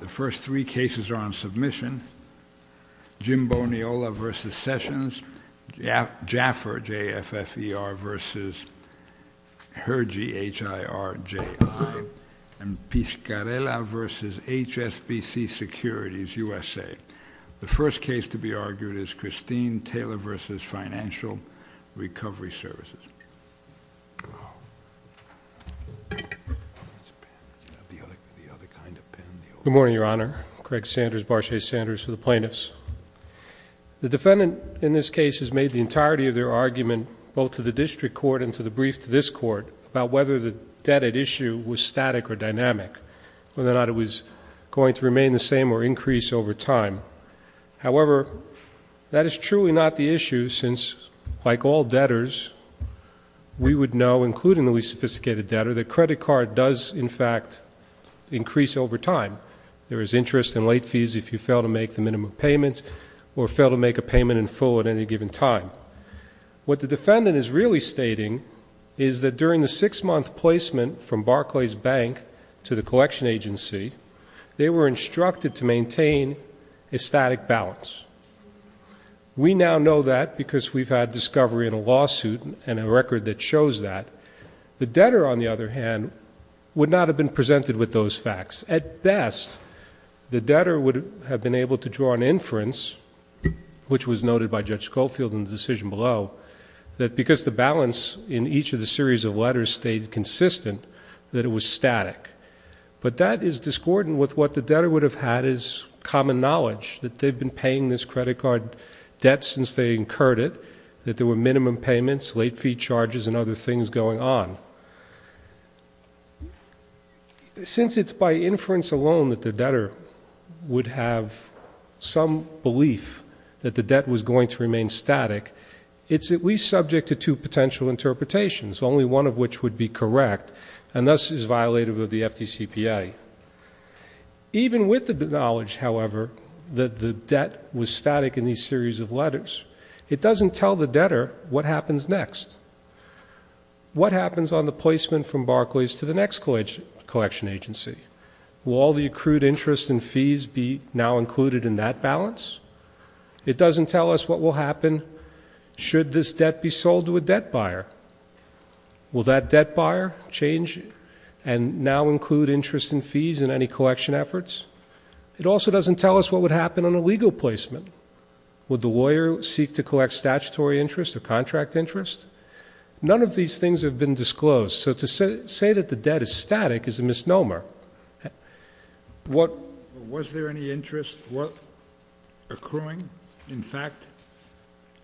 The first three cases are on submission. Jim Boniola v. Sessions, Jaffer, J-F-F-E-R v. Hergy, H-I-R-J-I, and Piscarella v. HSBC Securities, USA. The first case to be argued is Christine Taylor v. Financial Recovery Services. Good morning, Your Honor. Craig Sanders, Barchet Sanders for the Plaintiffs. The defendant in this case has made the entirety of their argument both to the district court and to the brief to this court about whether the debt at issue was static or dynamic, whether or not it was going to remain the same or increase over time. However, that is truly not the issue since, like all debtors, we would know, including the least sophisticated debtor, that credit card does, in fact, increase over time. There is interest in late fees if you fail to make the minimum payments or fail to make a payment in full at any given time. What the defendant is really stating is that during the six-month placement from Barclays Bank to the collection agency, they were instructed to maintain a static balance. We now know that because we've had discovery in a lawsuit and a record that shows that. The debtor, on the other hand, would not have been presented with those facts. At best, the debtor would have been able to draw an inference, which was noted by Judge Schofield in the decision below, that because the balance in each of the series of letters stayed consistent, that it was static. But that is discordant with what the debtor would have had as common knowledge, that they've been paying this credit card debt since they incurred it, that there were minimum payments, late fee charges, and other things going on. Since it's by inference alone that the debtor would have some belief that the debt was going to remain static, it's at least subject to two potential interpretations, only one of which would be correct, and thus is violative of the FDCPA. Even with the knowledge, however, that the debt was static in these series of letters, it doesn't tell the debtor what happens next. What happens on the placement from Barclays to the next collection agency? Will all the accrued interest and fees be now included in that balance? It doesn't tell us what will happen should this debt be sold to a debt buyer. Will that debt buyer change and now include interest and fees in any collection efforts? It also doesn't tell us what would happen on a legal placement. Would the lawyer seek to collect statutory interest or contract interest? None of these things have been disclosed. So to say that the debt is static is a misnomer. What— Was there any interest worth accruing, in fact?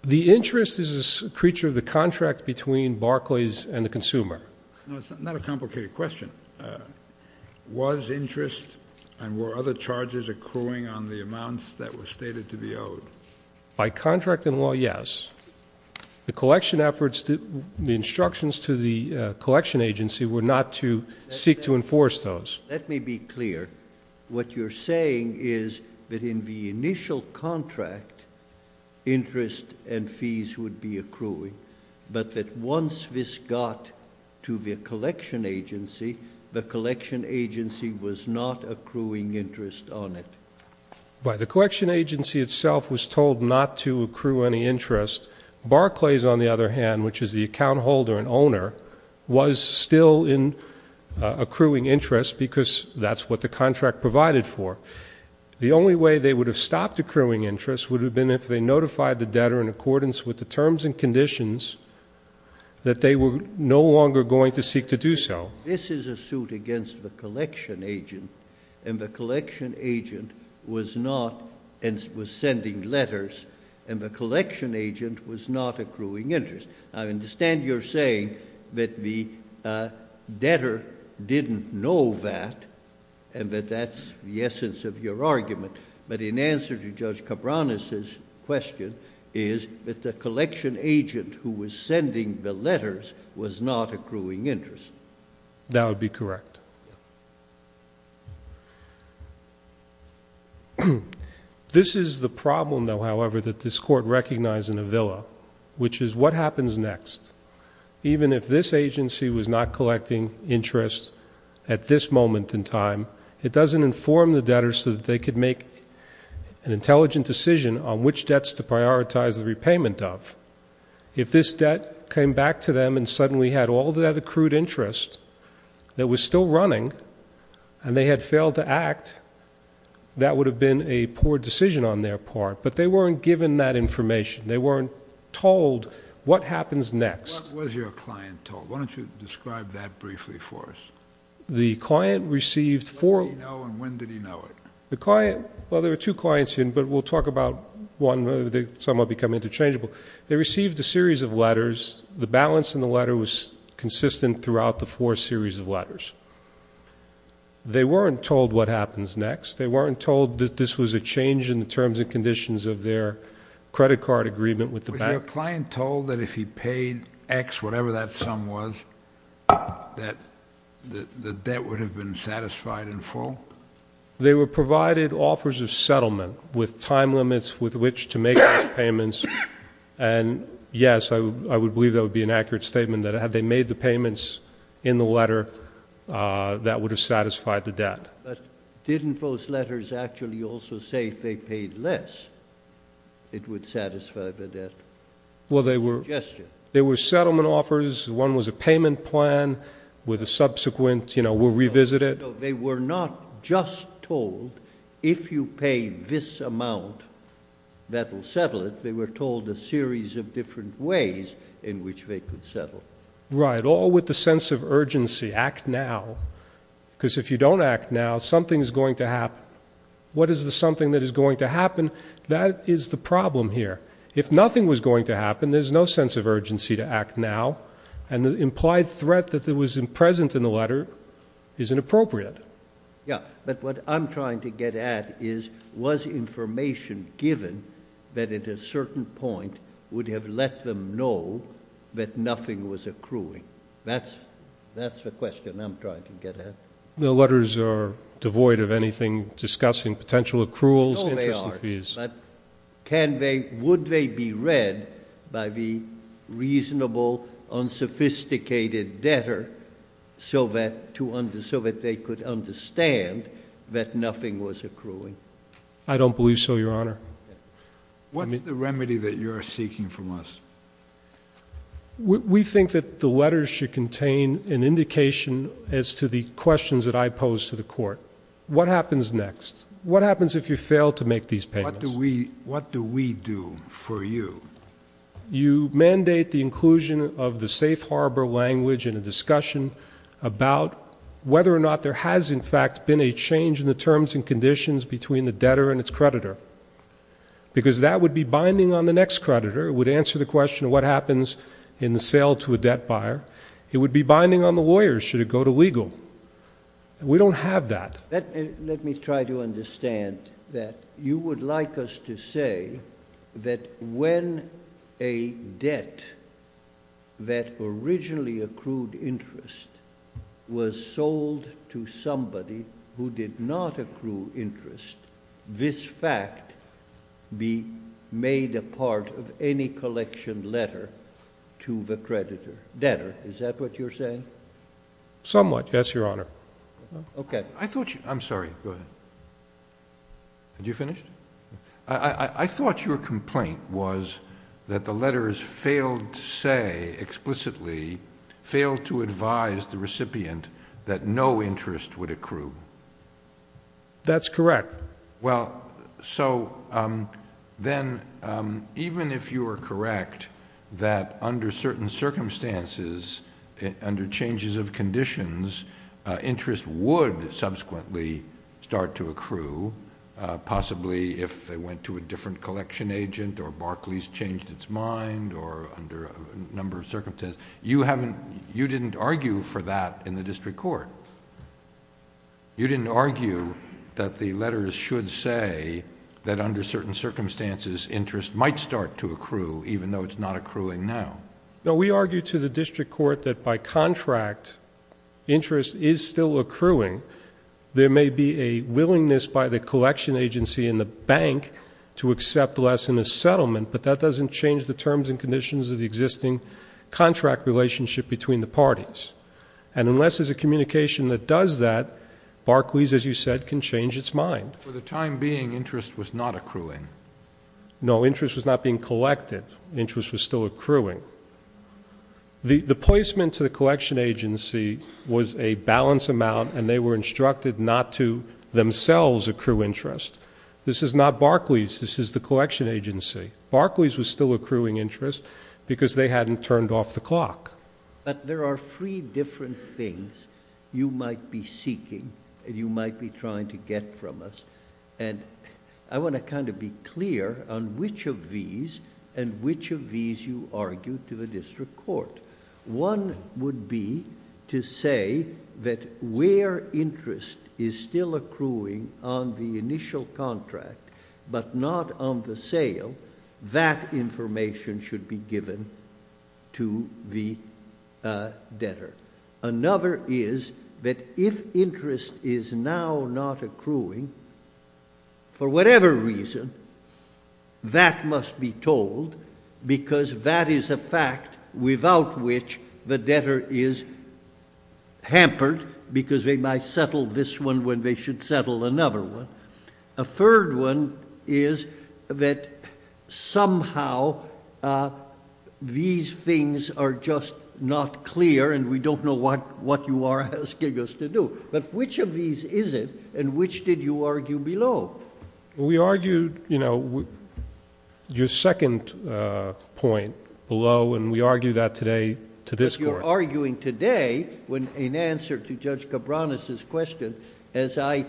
The interest is a creature of the contract between Barclays and the consumer. No, it's not a complicated question. Was interest, and were other charges accruing on the amounts that were stated to be owed? By contract and law, yes. The collection efforts—the instructions to the collection agency were not to seek to enforce those. Let me be clear. What you're saying is that in the initial contract, interest and fees would be accruing, but that once this got to the collection agency, the collection agency was not accruing interest on it. Right. The collection agency itself was told not to accrue any interest. Barclays, on the other hand, which is the account holder and owner, was still in accruing interest because that's what the contract provided for. The only way they would have stopped accruing interest would have been if they notified the debtor in accordance with the terms and conditions that they were no longer going to seek to do so. This is a suit against the collection agent, and the collection agent was not—and was sending letters, and the collection agent was not accruing interest. I understand you're saying that the debtor didn't know that and that that's the essence of your argument, but in answer to Judge Cabranes' question is that the collection agent who was sending the letters was not accruing interest. That would be correct. This is the problem, though, however, that this Court recognized in Avila, which is what happens next. Even if this agency was not collecting interest at this moment in time, it doesn't inform the debtor so that they could make an intelligent decision on which debts to prioritize the repayment of. If this debt came back to them and suddenly had all that accrued interest that was still running and they had failed to act, that would have been a poor decision on their part, but they weren't given that information. They weren't told what happens next. What was your client told? Why don't you describe that briefly for us? The client received four— What did he know and when did he know it? The client—well, there were two clients here, but we'll talk about one. Some have become interchangeable. They received a series of letters. The balance in the letter was consistent throughout the four series of letters. They weren't told what happens next. They weren't told that this was a change in the terms and conditions of their credit card agreement with the bank. Was your client told that if he paid X, whatever that sum was, that the debt would have been satisfied in full? They were provided offers of settlement with time limits with which to make those payments, and yes, I would believe that would be an accurate statement that had they made the payments in the letter, that would have satisfied the debt. But didn't those letters actually also say if they paid less, it would satisfy the debt? Well, they were— Suggestion. There were settlement offers. One was a payment plan with a subsequent, you know, we'll revisit it. No, they were not just told if you pay this amount, that will settle it. They were told a series of different ways in which they could settle. Right. Act now, because if you don't act now, something is going to happen. What is the something that is going to happen? That is the problem here. If nothing was going to happen, there's no sense of urgency to act now, and the implied threat that was present in the letter is inappropriate. Yeah, but what I'm trying to get at is was information given that at a certain point would have let them know that nothing was accruing. That's the question I'm trying to get at. The letters are devoid of anything discussing potential accruals, interest and fees. But would they be read by the reasonable, unsophisticated debtor so that they could understand that nothing was accruing? I don't believe so, Your Honor. What's the remedy that you're seeking from us? We think that the letters should contain an indication as to the questions that I pose to the court. What happens next? What happens if you fail to make these payments? What do we do for you? You mandate the inclusion of the safe harbor language in a discussion about whether or not there has, in fact, been a change in the terms and conditions between the debtor and its creditor, because that would be binding on the next creditor. It would answer the question of what happens in the sale to a debt buyer. It would be binding on the lawyer should it go to legal. We don't have that. Let me try to understand that. You would like us to say that when a debt that originally accrued interest was sold to somebody who did not accrue interest, this fact be made a part of any collection letter to the creditor. Debtor, is that what you're saying? Somewhat, yes, Your Honor. I'm sorry. Go ahead. Are you finished? I thought your complaint was that the letters failed to say explicitly, failed to advise the recipient that no interest would accrue. That's correct. Even if you are correct that under certain circumstances, under changes of conditions, interest would subsequently start to accrue, possibly if they went to a different collection agent or Barclays changed its mind or under a number of circumstances, you didn't argue for that in the district court. You didn't argue that the letters should say that under certain circumstances, interest might start to accrue even though it's not accruing now. No, we argue to the district court that by contract, interest is still accruing. There may be a willingness by the collection agency and the bank to accept less in a settlement, but that doesn't change the terms and conditions of the existing contract relationship between the parties. And unless there's a communication that does that, Barclays, as you said, can change its mind. For the time being, interest was not accruing. No, interest was not being collected. Interest was still accruing. The placement to the collection agency was a balanced amount, and they were instructed not to themselves accrue interest. This is not Barclays. This is the collection agency. There are three different things you might be seeking and you might be trying to get from us. I want to be clear on which of these and which of these you argue to the district court. One would be to say that where interest is still accruing on the initial contract, but not on the sale, that information should be given to the debtor. Another is that if interest is now not accruing, for whatever reason, that must be told because that is a fact without which the debtor is hampered because they might settle this one when they should settle another one. A third one is that somehow these things are just not clear, and we don't know what you are asking us to do. But which of these is it, and which did you argue below? We argued your second point below, and we argue that today to this court. We are arguing today in answer to Judge Cabranes' question, as I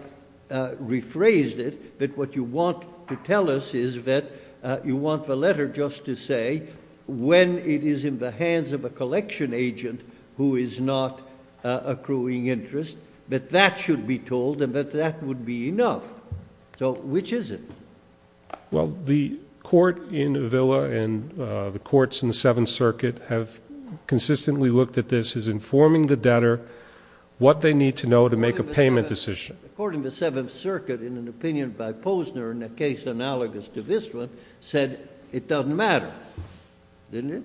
rephrased it, that what you want to tell us is that you want the letter just to say when it is in the hands of a collection agent who is not accruing interest, that that should be told and that that would be enough. So which is it? Well, the court in Avila and the courts in the Seventh Circuit have consistently looked at this as informing the debtor what they need to know to make a payment decision. According to the Seventh Circuit, in an opinion by Posner, in a case analogous to this one, said it doesn't matter, didn't it?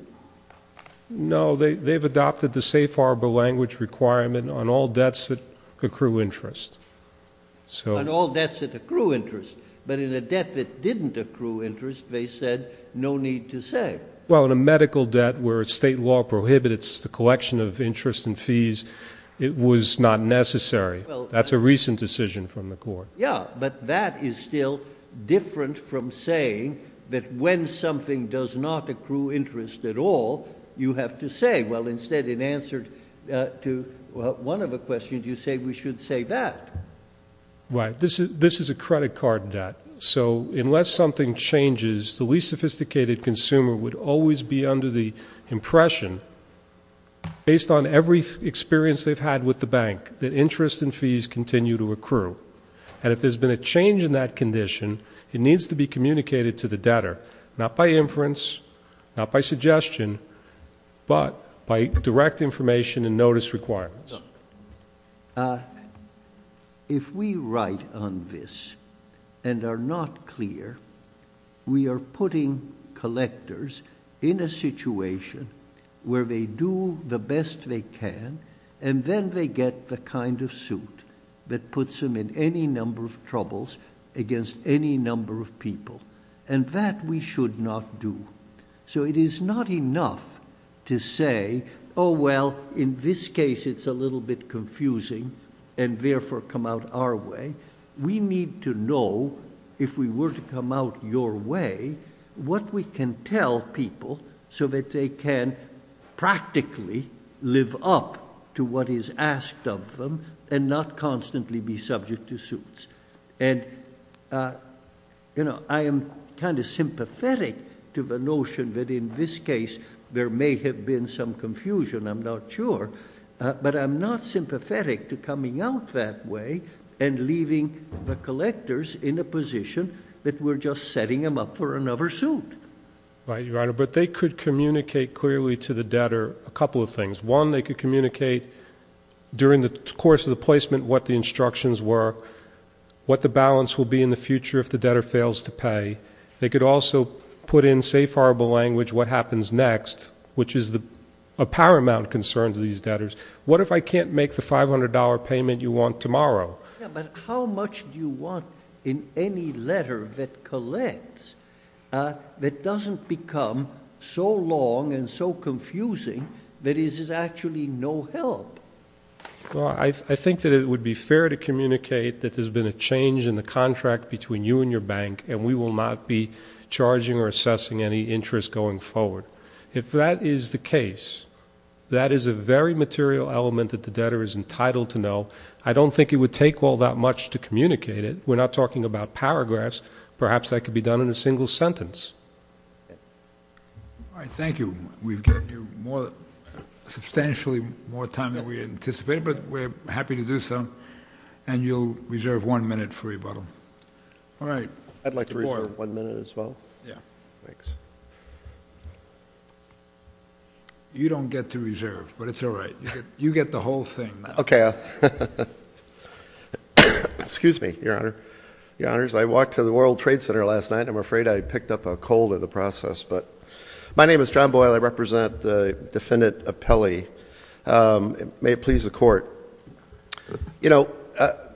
No, they've adopted the safe harbor language requirement on all debts that accrue interest. On all debts that accrue interest. But in a debt that didn't accrue interest, they said no need to say. Well, in a medical debt where state law prohibits the collection of interest and fees, it was not necessary. That's a recent decision from the court. Yeah, but that is still different from saying that when something does not accrue interest at all, you have to say. Well, instead, in answer to one of the questions, you say we should say that. Right. This is a credit card debt. So unless something changes, the least sophisticated consumer would always be under the impression, based on every experience they've had with the bank, that interest and fees continue to accrue. And if there's been a change in that condition, it needs to be communicated to the debtor, not by inference, not by suggestion, but by direct information and notice requirements. If we write on this and are not clear, we are putting collectors in a situation where they do the best they can, and then they get the kind of suit that puts them in any number of troubles against any number of people. And that we should not do. So it is not enough to say, oh, well, in this case it's a little bit confusing and therefore come out our way. We need to know, if we were to come out your way, what we can tell people so that they can practically live up to what is asked of them and not constantly be subject to suits. And, you know, I am kind of sympathetic to the notion that in this case there may have been some confusion. I'm not sure. But I'm not sympathetic to coming out that way and leaving the collectors in a position that we're just setting them up for another suit. Right, Your Honor. But they could communicate clearly to the debtor a couple of things. One, they could communicate during the course of the placement what the instructions were, what the balance will be in the future if the debtor fails to pay. They could also put in safe harbor language what happens next, which is a paramount concern to these debtors. What if I can't make the $500 payment you want tomorrow? Yeah, but how much do you want in any letter that collects that doesn't become so long and so confusing that it is actually no help? Well, I think that it would be fair to communicate that there's been a change in the contract between you and your bank, and we will not be charging or assessing any interest going forward. If that is the case, that is a very material element that the debtor is entitled to know. I don't think it would take all that much to communicate it. We're not talking about paragraphs. Perhaps that could be done in a single sentence. All right, thank you. We've given you substantially more time than we anticipated, but we're happy to do so, and you'll reserve one minute for rebuttal. All right. I'd like to reserve one minute as well. Yeah. Thanks. You don't get to reserve, but it's all right. You get the whole thing. Okay. Excuse me, Your Honor. Your Honors, I walked to the World Trade Center last night. I'm afraid I picked up a cold in the process. My name is John Boyle. I represent the Defendant Appelli. May it please the Court. You know,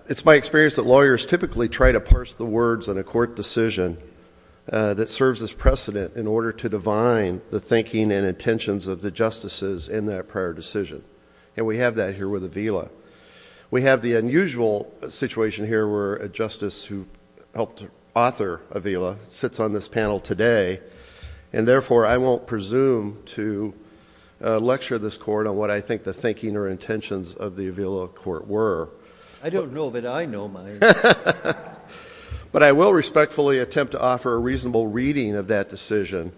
it's my experience that lawyers typically try to parse the words in a court decision that serves as precedent in order to divine the thinking and intentions of the justices in that prior decision, and we have that here with Avila. We have the unusual situation here where a justice who helped author Avila sits on this panel today and, therefore, I won't presume to lecture this Court on what I think the thinking or intentions of the Avila Court were. I don't know of it. I know mine. But I will respectfully attempt to offer a reasonable reading of that decision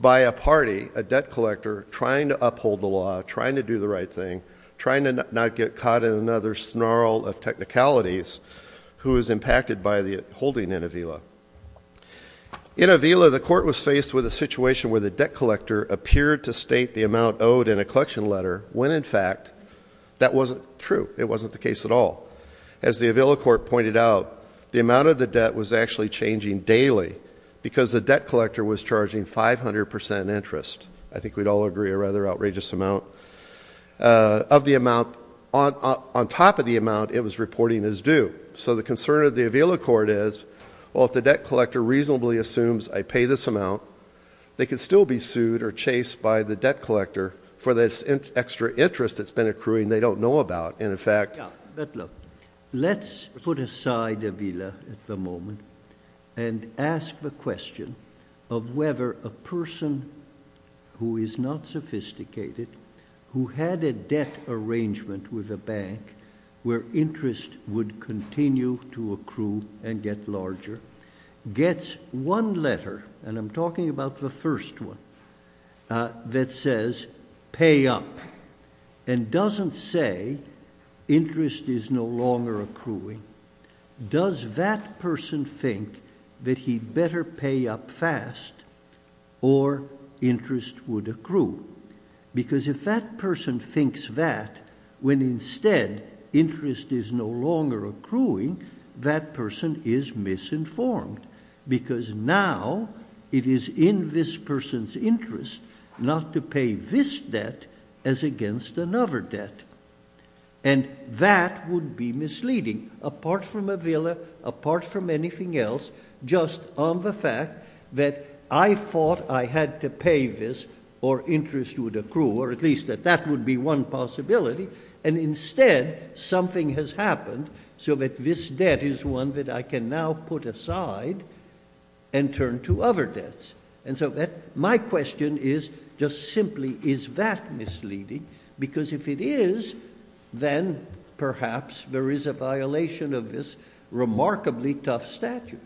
by a party, a debt collector, trying to uphold the law, trying to do the right thing, trying to not get caught in another snarl of technicalities who is impacted by the holding in Avila. In Avila, the Court was faced with a situation where the debt collector appeared to state the amount owed in a collection letter when, in fact, that wasn't true. It wasn't the case at all. As the Avila Court pointed out, the amount of the debt was actually changing daily because the debt collector was charging 500 percent interest. I think we'd all agree a rather outrageous amount of the amount. On top of the amount, it was reporting as due. So the concern of the Avila Court is, well, if the debt collector reasonably assumes I pay this amount, they could still be sued or chased by the debt collector for this extra interest that's been accruing they don't know about. And, in fact— But look, let's put aside Avila at the moment and ask the question of whether a person who is not sophisticated, who had a debt arrangement with a bank where interest would continue to accrue and get larger, gets one letter—and I'm talking about the first one—that says pay up and doesn't say interest is no longer accruing, does that person think that he'd better pay up fast or interest would accrue? Because if that person thinks that, when instead interest is no longer accruing, that person is misinformed because now it is in this person's interest not to pay this debt as against another debt. And that would be misleading, apart from Avila, apart from anything else, just on the fact that I thought I had to pay this or interest would accrue, or at least that that would be one possibility, and instead something has happened so that this debt is one that I can now put aside and turn to other debts. And so my question is, just simply, is that misleading? Because if it is, then perhaps there is a violation of this remarkably tough statute.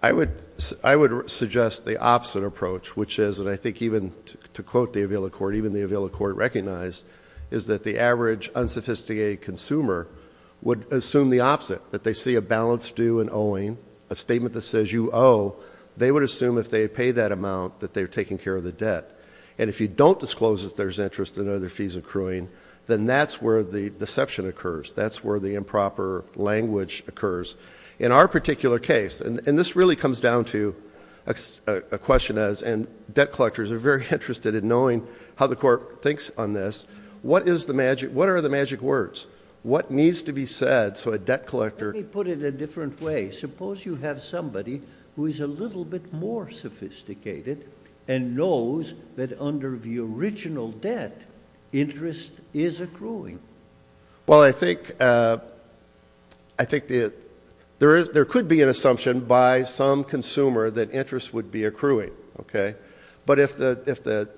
I would suggest the opposite approach, which is, and I think even to quote the Avila court, even the Avila court recognized, is that the average unsophisticated consumer would assume the opposite, that they see a balance due and owing, a statement that says you owe, they would assume if they had paid that amount that they were taking care of the debt. And if you don't disclose that there's interest in other fees accruing, then that's where the deception occurs. That's where the improper language occurs. In our particular case, and this really comes down to a question as, and debt collectors are very interested in knowing how the court thinks on this, what are the magic words? What needs to be said so a debt collector— Let me put it a different way. Suppose you have somebody who is a little bit more sophisticated and knows that under the original debt interest is accruing. Well, I think there could be an assumption by some consumer that interest would be accruing. But if the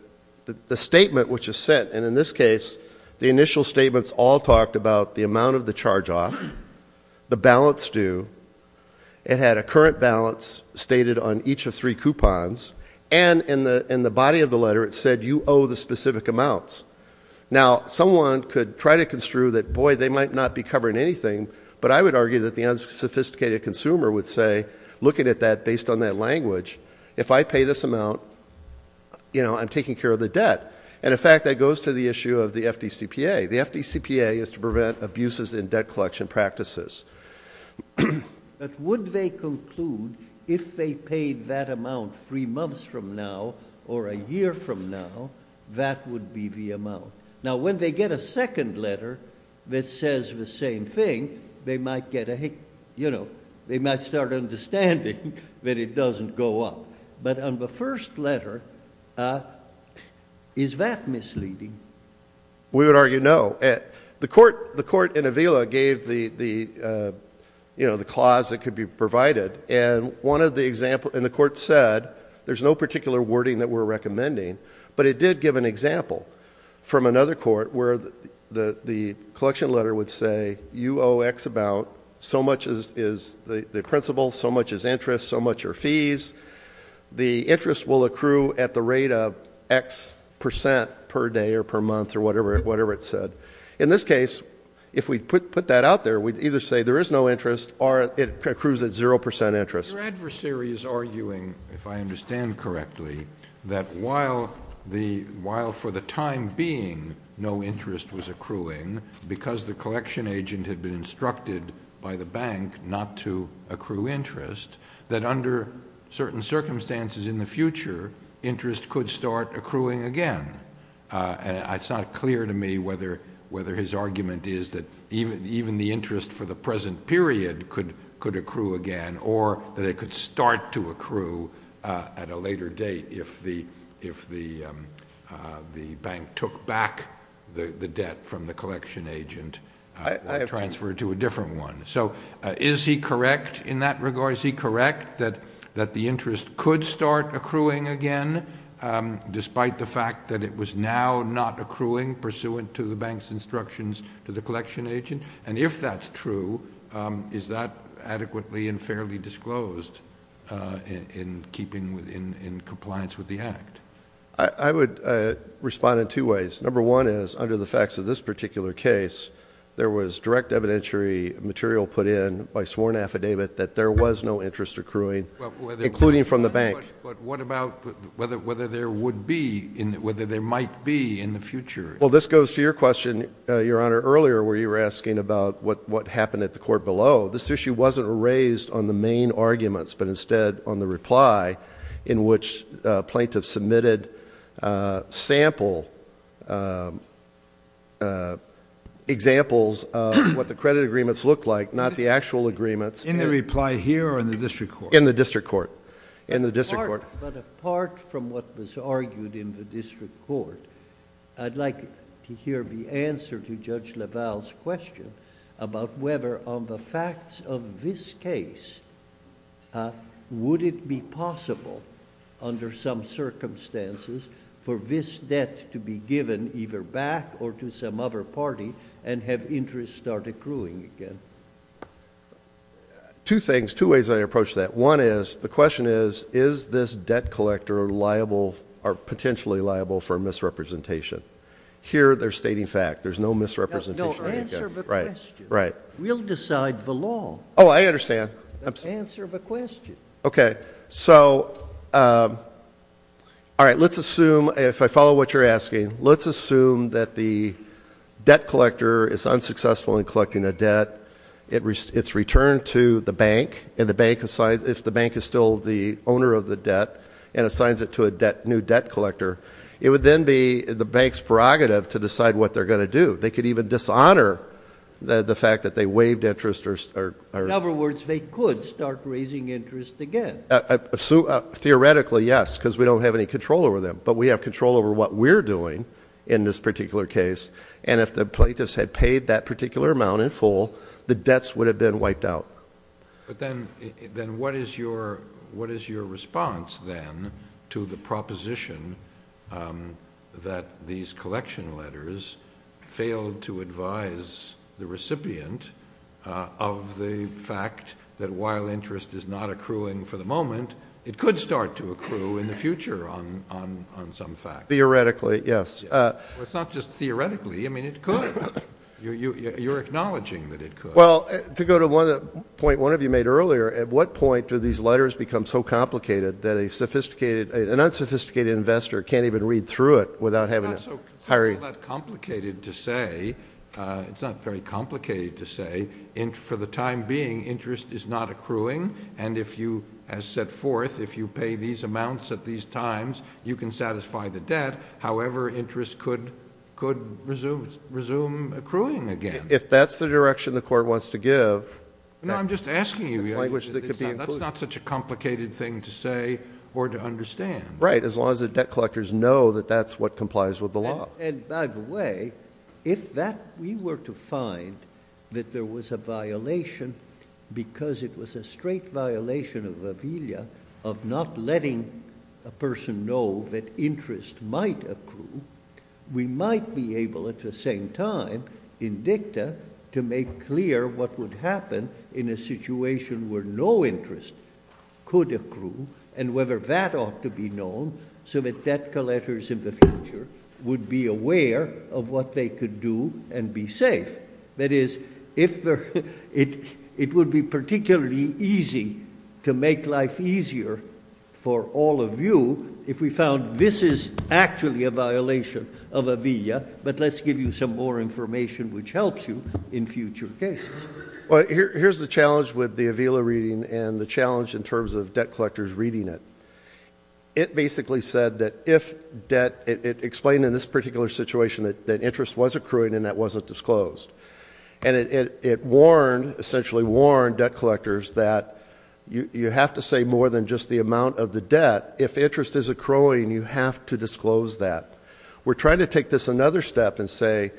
statement which is set, and in this case the initial statements all talked about the amount of the charge off, the balance due, it had a current balance stated on each of three coupons, and in the body of the letter it said you owe the specific amounts. Now, someone could try to construe that, boy, they might not be covering anything, but I would argue that the unsophisticated consumer would say, looking at that based on that language, if I pay this amount, you know, I'm taking care of the debt. And, in fact, that goes to the issue of the FDCPA. The FDCPA is to prevent abuses in debt collection practices. But would they conclude if they paid that amount three months from now or a year from now, that would be the amount? Now, when they get a second letter that says the same thing, they might get a, you know, they might start understanding that it doesn't go up. But on the first letter, is that misleading? We would argue no. The court in Avila gave the, you know, the clause that could be provided, and one of the examples in the court said there's no particular wording that we're recommending, but it did give an example from another court where the collection letter would say you owe X amount, so much is the principal, so much is interest, so much are fees. The interest will accrue at the rate of X percent per day or per month or whatever it said. In this case, if we put that out there, we'd either say there is no interest or it accrues at 0% interest. Your adversary is arguing, if I understand correctly, that while for the time being no interest was accruing, because the collection agent had been instructed by the bank not to accrue interest, that under certain circumstances in the future interest could start accruing again. And it's not clear to me whether his argument is that even the interest for the present period could accrue again or that it could start to accrue at a later date if the bank took back the debt from the collection agent and transferred to a different one. So is he correct in that regard? Is he correct that the interest could start accruing again despite the fact that it was now not accruing pursuant to the bank's instructions to the collection agent? And if that's true, is that adequately and fairly disclosed in compliance with the Act? I would respond in two ways. Number one is, under the facts of this particular case, there was direct evidentiary material put in by sworn affidavit that there was no interest accruing, including from the bank. But what about whether there would be, whether there might be in the future? Well, this goes to your question, Your Honor, earlier where you were asking about what happened at the court below. This issue wasn't raised on the main arguments but instead on the reply in which plaintiffs submitted sample examples of what the credit agreements looked like, not the actual agreements. In the reply here or in the district court? In the district court. But apart from what was argued in the district court, I'd like to hear the answer to Judge LaValle's question about whether on the facts of this case, would it be possible under some circumstances for this debt to be given either back or to some other party and have interest start accruing again? Two things, two ways I approach that. One is, the question is, is this debt collector liable or potentially liable for misrepresentation? Here they're stating fact. There's no misrepresentation. Answer the question. Right, right. We'll decide the law. Oh, I understand. Answer the question. Okay. So, all right, let's assume, if I follow what you're asking, let's assume that the debt collector is unsuccessful in collecting a debt. It's returned to the bank and the bank assigns, if the bank is still the owner of the debt and assigns it to a new debt collector, it would then be the bank's prerogative to decide what they're going to do. They could even dishonor the fact that they waived interest. In other words, they could start raising interest again. Theoretically, yes, because we don't have any control over them. But we have control over what we're doing in this particular case, and if the plaintiffs had paid that particular amount in full, the debts would have been wiped out. But then what is your response, then, to the proposition that these collection letters failed to advise the recipient of the fact that, while interest is not accruing for the moment, it could start to accrue in the future on some facts? Theoretically, yes. Well, it's not just theoretically. I mean, it could. You're acknowledging that it could. Well, to go to the point one of you made earlier, at what point do these letters become so complicated that an unsophisticated investor can't even read through it without having to hire you? It's not so complicated to say. It's not very complicated to say. For the time being, interest is not accruing. And as set forth, if you pay these amounts at these times, you can satisfy the debt. However, interest could resume accruing again. If that's the direction the court wants to give. No, I'm just asking you. That's not such a complicated thing to say or to understand. Right, as long as the debt collectors know that that's what complies with the law. And, by the way, if we were to find that there was a violation because it was a straight violation of Avelia of not letting a person know that interest might accrue, we might be able, at the same time, in dicta, to make clear what would happen in a situation where no interest could accrue, and whether that ought to be known so that debt collectors in the future would be aware of what they could do and be safe. That is, it would be particularly easy to make life easier for all of you if we found this is actually a violation of Avelia, but let's give you some more information which helps you in future cases. Well, here's the challenge with the Avelia reading and the challenge in terms of debt collectors reading it. It basically said that if debt, it explained in this particular situation that interest was accruing and that wasn't disclosed. And it warned, essentially warned, debt collectors that you have to say more than just the amount of the debt. If interest is accruing, you have to disclose that. We're trying to take this another step and say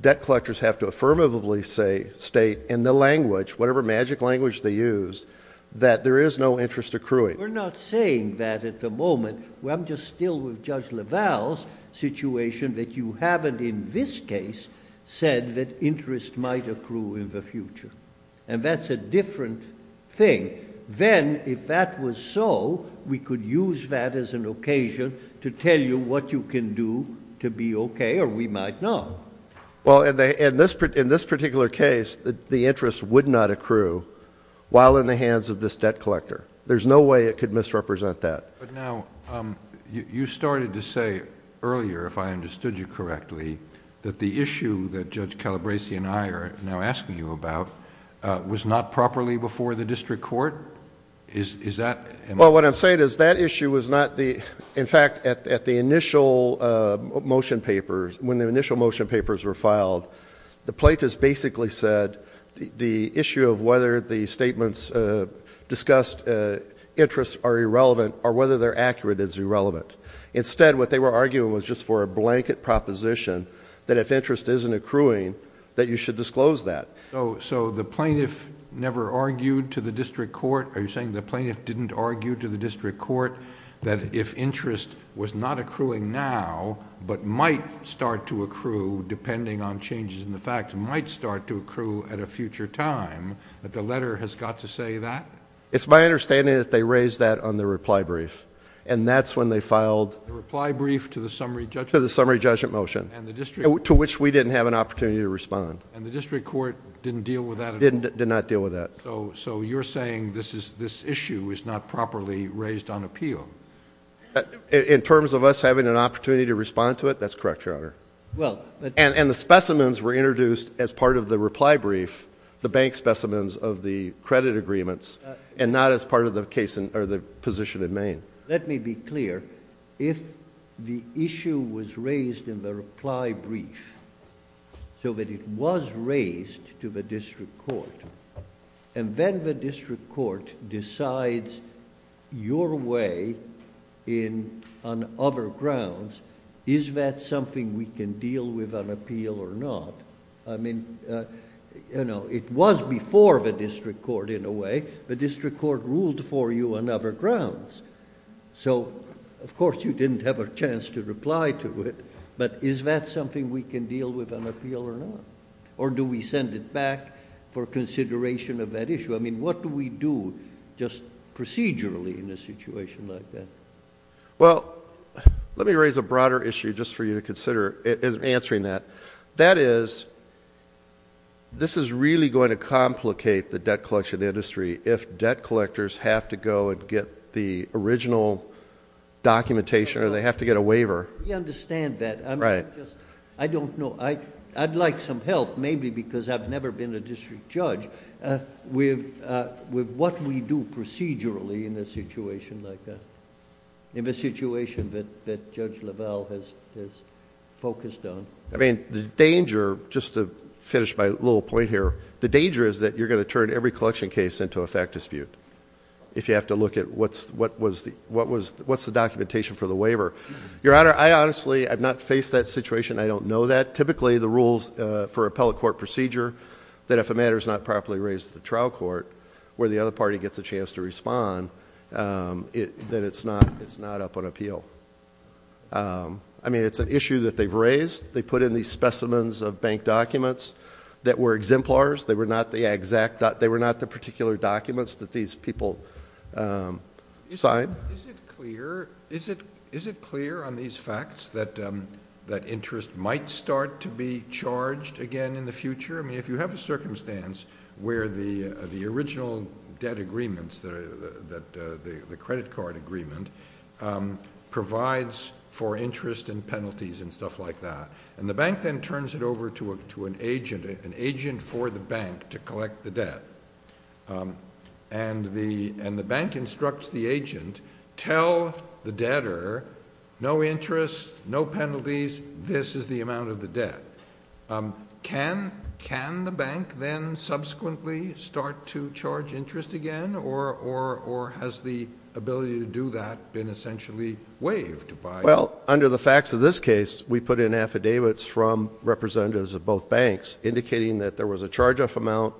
debt collectors have to affirmatively state in the language, whatever magic language they use, that there is no interest accruing. We're not saying that at the moment. I'm just still with Judge LaValle's situation that you haven't in this case said that interest might accrue in the future. And that's a different thing. Then, if that was so, we could use that as an occasion to tell you what you can do to be okay, or we might not. Well, in this particular case, the interest would not accrue while in the hands of this debt collector. There's no way it could misrepresent that. But now, you started to say earlier, if I understood you correctly, that the issue that Judge Calabresi and I are now asking you about was not properly before the district court? Is that? Well, what I'm saying is that issue was not the, in fact, at the initial motion papers, when the initial motion papers were filed, the plaintiffs basically said the issue of whether the statements discussed interest are irrelevant or whether they're accurate is irrelevant. Instead, what they were arguing was just for a blanket proposition that if interest isn't accruing, that you should disclose that. So the plaintiff never argued to the district court? Are you saying the plaintiff didn't argue to the district court that if interest was not accruing now, but might start to accrue depending on changes in the facts, might start to accrue at a future time, that the letter has got to say that? It's my understanding that they raised that on the reply brief, and that's when they filed... The reply brief to the summary judgment? To the summary judgment motion. And the district... To which we didn't have an opportunity to respond. And the district court didn't deal with that at all? Did not deal with that. So you're saying this issue is not properly raised on appeal? In terms of us having an opportunity to respond to it, that's correct, Your Honor. Well... And the specimens were introduced as part of the reply brief, the bank specimens of the credit agreements, and not as part of the position in Maine. Let me be clear. If the issue was raised in the reply brief, so that it was raised to the district court, and then the district court decides your way on other grounds, is that something we can deal with on appeal or not? I mean, you know, it was before the district court in a way. The district court ruled for you on other grounds. So, of course, you didn't have a chance to reply to it, but is that something we can deal with on appeal or not? Or do we send it back for consideration of that issue? I mean, what do we do just procedurally in a situation like that? Well, let me raise a broader issue just for you to consider in answering that. That is, this is really going to complicate the debt collection industry if debt collectors have to go and get the original documentation, or they have to get a waiver. We understand that. Right. I don't know. I'd like some help, maybe because I've never been a district judge, with what we do procedurally in a situation like that, in the situation that Judge Lavelle has focused on. I mean, the danger, just to finish my little point here, the danger is that you're going to turn every collection case into a fact dispute if you have to look at what's the documentation for the waiver. Your Honor, I honestly have not faced that situation. I don't know that. Typically, the rules for appellate court procedure, that if a matter is not properly raised at the trial court where the other party gets a chance to respond, then it's not up on appeal. I mean, it's an issue that they've raised. They put in these specimens of bank documents that were exemplars. They were not the particular documents that these people signed. Is it clear on these facts that interest might start to be charged again in the future? I mean, if you have a circumstance where the original debt agreements, the credit card agreement, provides for interest and penalties and stuff like that, and the bank then turns it over to an agent, an agent for the bank to collect the debt, and the bank instructs the agent, tell the debtor, no interest, no penalties, this is the amount of the debt. Can the bank then subsequently start to charge interest again, or has the ability to do that been essentially waived? Well, under the facts of this case, we put in affidavits from representatives of both banks indicating that there was a charge-off amount,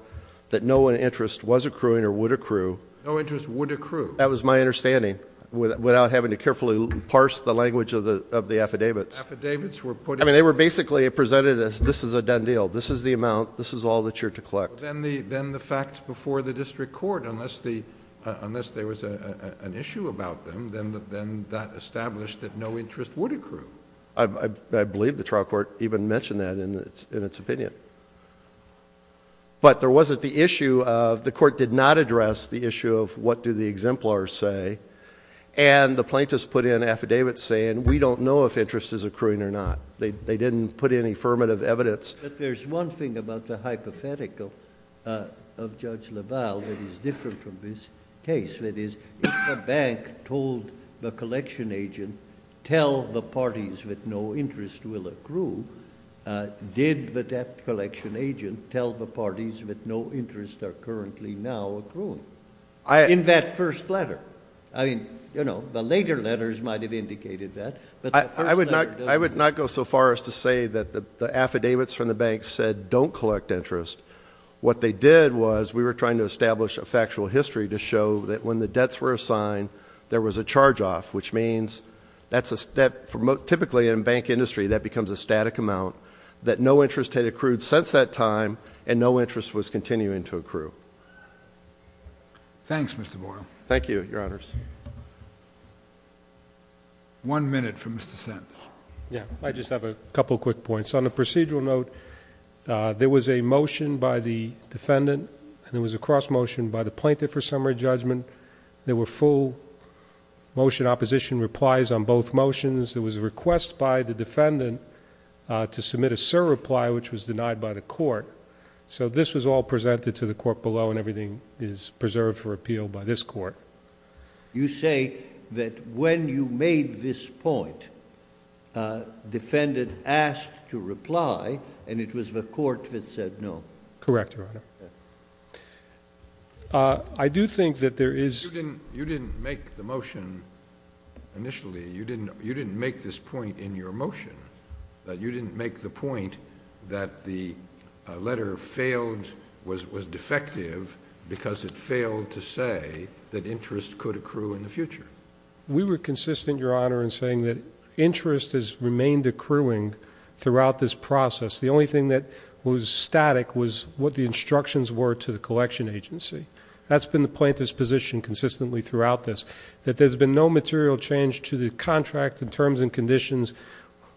that no interest was accruing or would accrue. No interest would accrue. That was my understanding, without having to carefully parse the language of the affidavits. Affidavits were put in. I mean, they were basically presented as this is a done deal. This is the amount. This is all that you're to collect. Then the facts before the district court, unless there was an issue about them, then that established that no interest would accrue. I believe the trial court even mentioned that in its opinion. But there wasn't the issue of the court did not address the issue of what do the exemplars say, and the plaintiffs put in affidavits saying we don't know if interest is accruing or not. They didn't put in affirmative evidence. But there's one thing about the hypothetical of Judge LaValle that is different from this case. That is, if the bank told the collection agent, tell the parties that no interest will accrue, did the debt collection agent tell the parties that no interest are currently now accruing? In that first letter. I mean, you know, the later letters might have indicated that, but the first letter doesn't. I would not go so far as to say that the affidavits from the bank said don't collect interest. What they did was we were trying to establish a factual history to show that when the debts were assigned, there was a charge-off, which means that typically in bank industry that becomes a static amount, that no interest had accrued since that time and no interest was continuing to accrue. Thanks, Mr. Boyle. Thank you, Your Honors. One minute for Mr. Sentence. Yeah, I just have a couple of quick points. On a procedural note, there was a motion by the defendant and there was a cross motion by the plaintiff for summary judgment. There were full motion opposition replies on both motions. There was a request by the defendant to submit a surreply, which was denied by the court. So this was all presented to the court below and everything is preserved for appeal by this court. You say that when you made this point, defendant asked to reply and it was the court that said no. Correct, Your Honor. I do think that there is. You didn't make the motion initially. You didn't make this point in your motion. You didn't make the point that the letter failed, was defective, because it failed to say that interest could accrue in the future. We were consistent, Your Honor, in saying that interest has remained accruing throughout this process. The only thing that was static was what the instructions were to the collection agency. That's been the plaintiff's position consistently throughout this, that there's been no material change to the contract in terms and conditions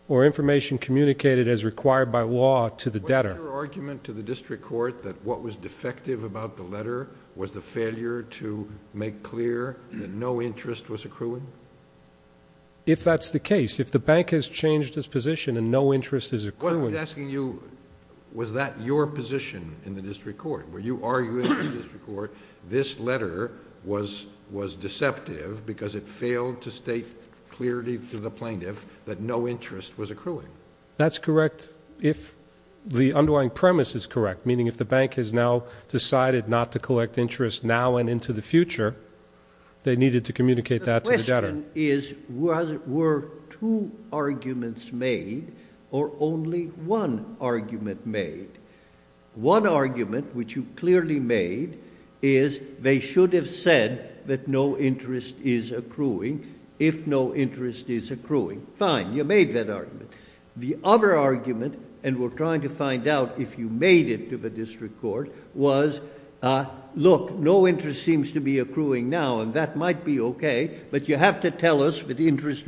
or information communicated as required by law to the debtor. Was your argument to the district court that what was defective about the letter was the failure to make clear that no interest was accruing? If that's the case, if the bank has changed its position and no interest is accruing... this letter was deceptive because it failed to state clearly to the plaintiff that no interest was accruing. That's correct if the underlying premise is correct, meaning if the bank has now decided not to collect interest now and into the future, they needed to communicate that to the debtor. The question is were two arguments made or only one argument made? One argument, which you clearly made, is they should have said that no interest is accruing if no interest is accruing. Fine. You made that argument. The other argument, and we're trying to find out if you made it to the district court, was look, no interest seems to be accruing now and that might be okay, but you have to tell us that interest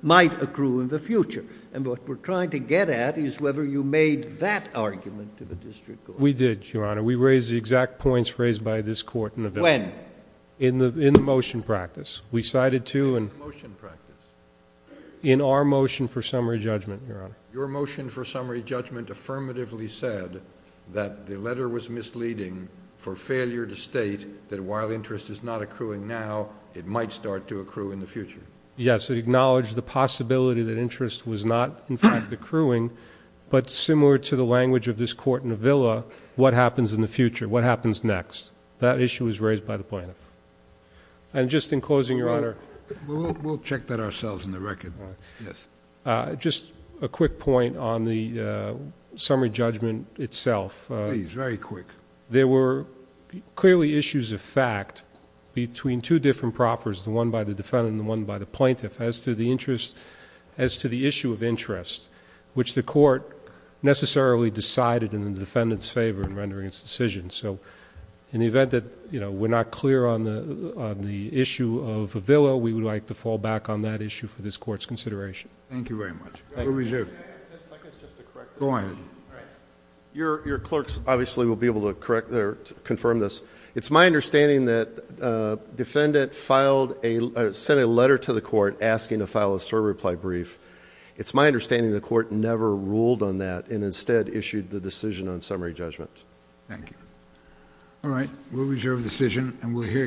might accrue in the future. And what we're trying to get at is whether you made that argument to the district court. We did, Your Honor. We raised the exact points raised by this Court in the... When? In the motion practice. We cited two... In the motion practice? In our motion for summary judgment, Your Honor. Your motion for summary judgment affirmatively said that the letter was misleading for failure to state that while interest is not accruing now, it might start to accrue in the future. Yes. It acknowledged the possibility that interest was not, in fact, accruing, but similar to the language of this court in the Villa, what happens in the future? What happens next? That issue was raised by the plaintiff. And just in closing, Your Honor... We'll check that ourselves in the record. Yes. Just a quick point on the summary judgment itself. Please. Very quick. There were clearly issues of fact between two different proffers, the one by the defendant and the one by the plaintiff, as to the issue of interest, which the court necessarily decided in the defendant's favor in rendering its decision. So, in the event that we're not clear on the issue of the Villa, we would like to fall back on that issue for this Court's consideration. Thank you very much. Ruby Zhu. Can I have ten seconds just to correct this? Go ahead. All right. Your clerks, obviously, will be able to confirm this. It's my understanding that the defendant filed a... sent a letter to the court asking to file a short reply brief. It's my understanding the court never ruled on that and instead issued the decision on summary judgment. Thank you. All right. We'll reserve the decision and we'll hear...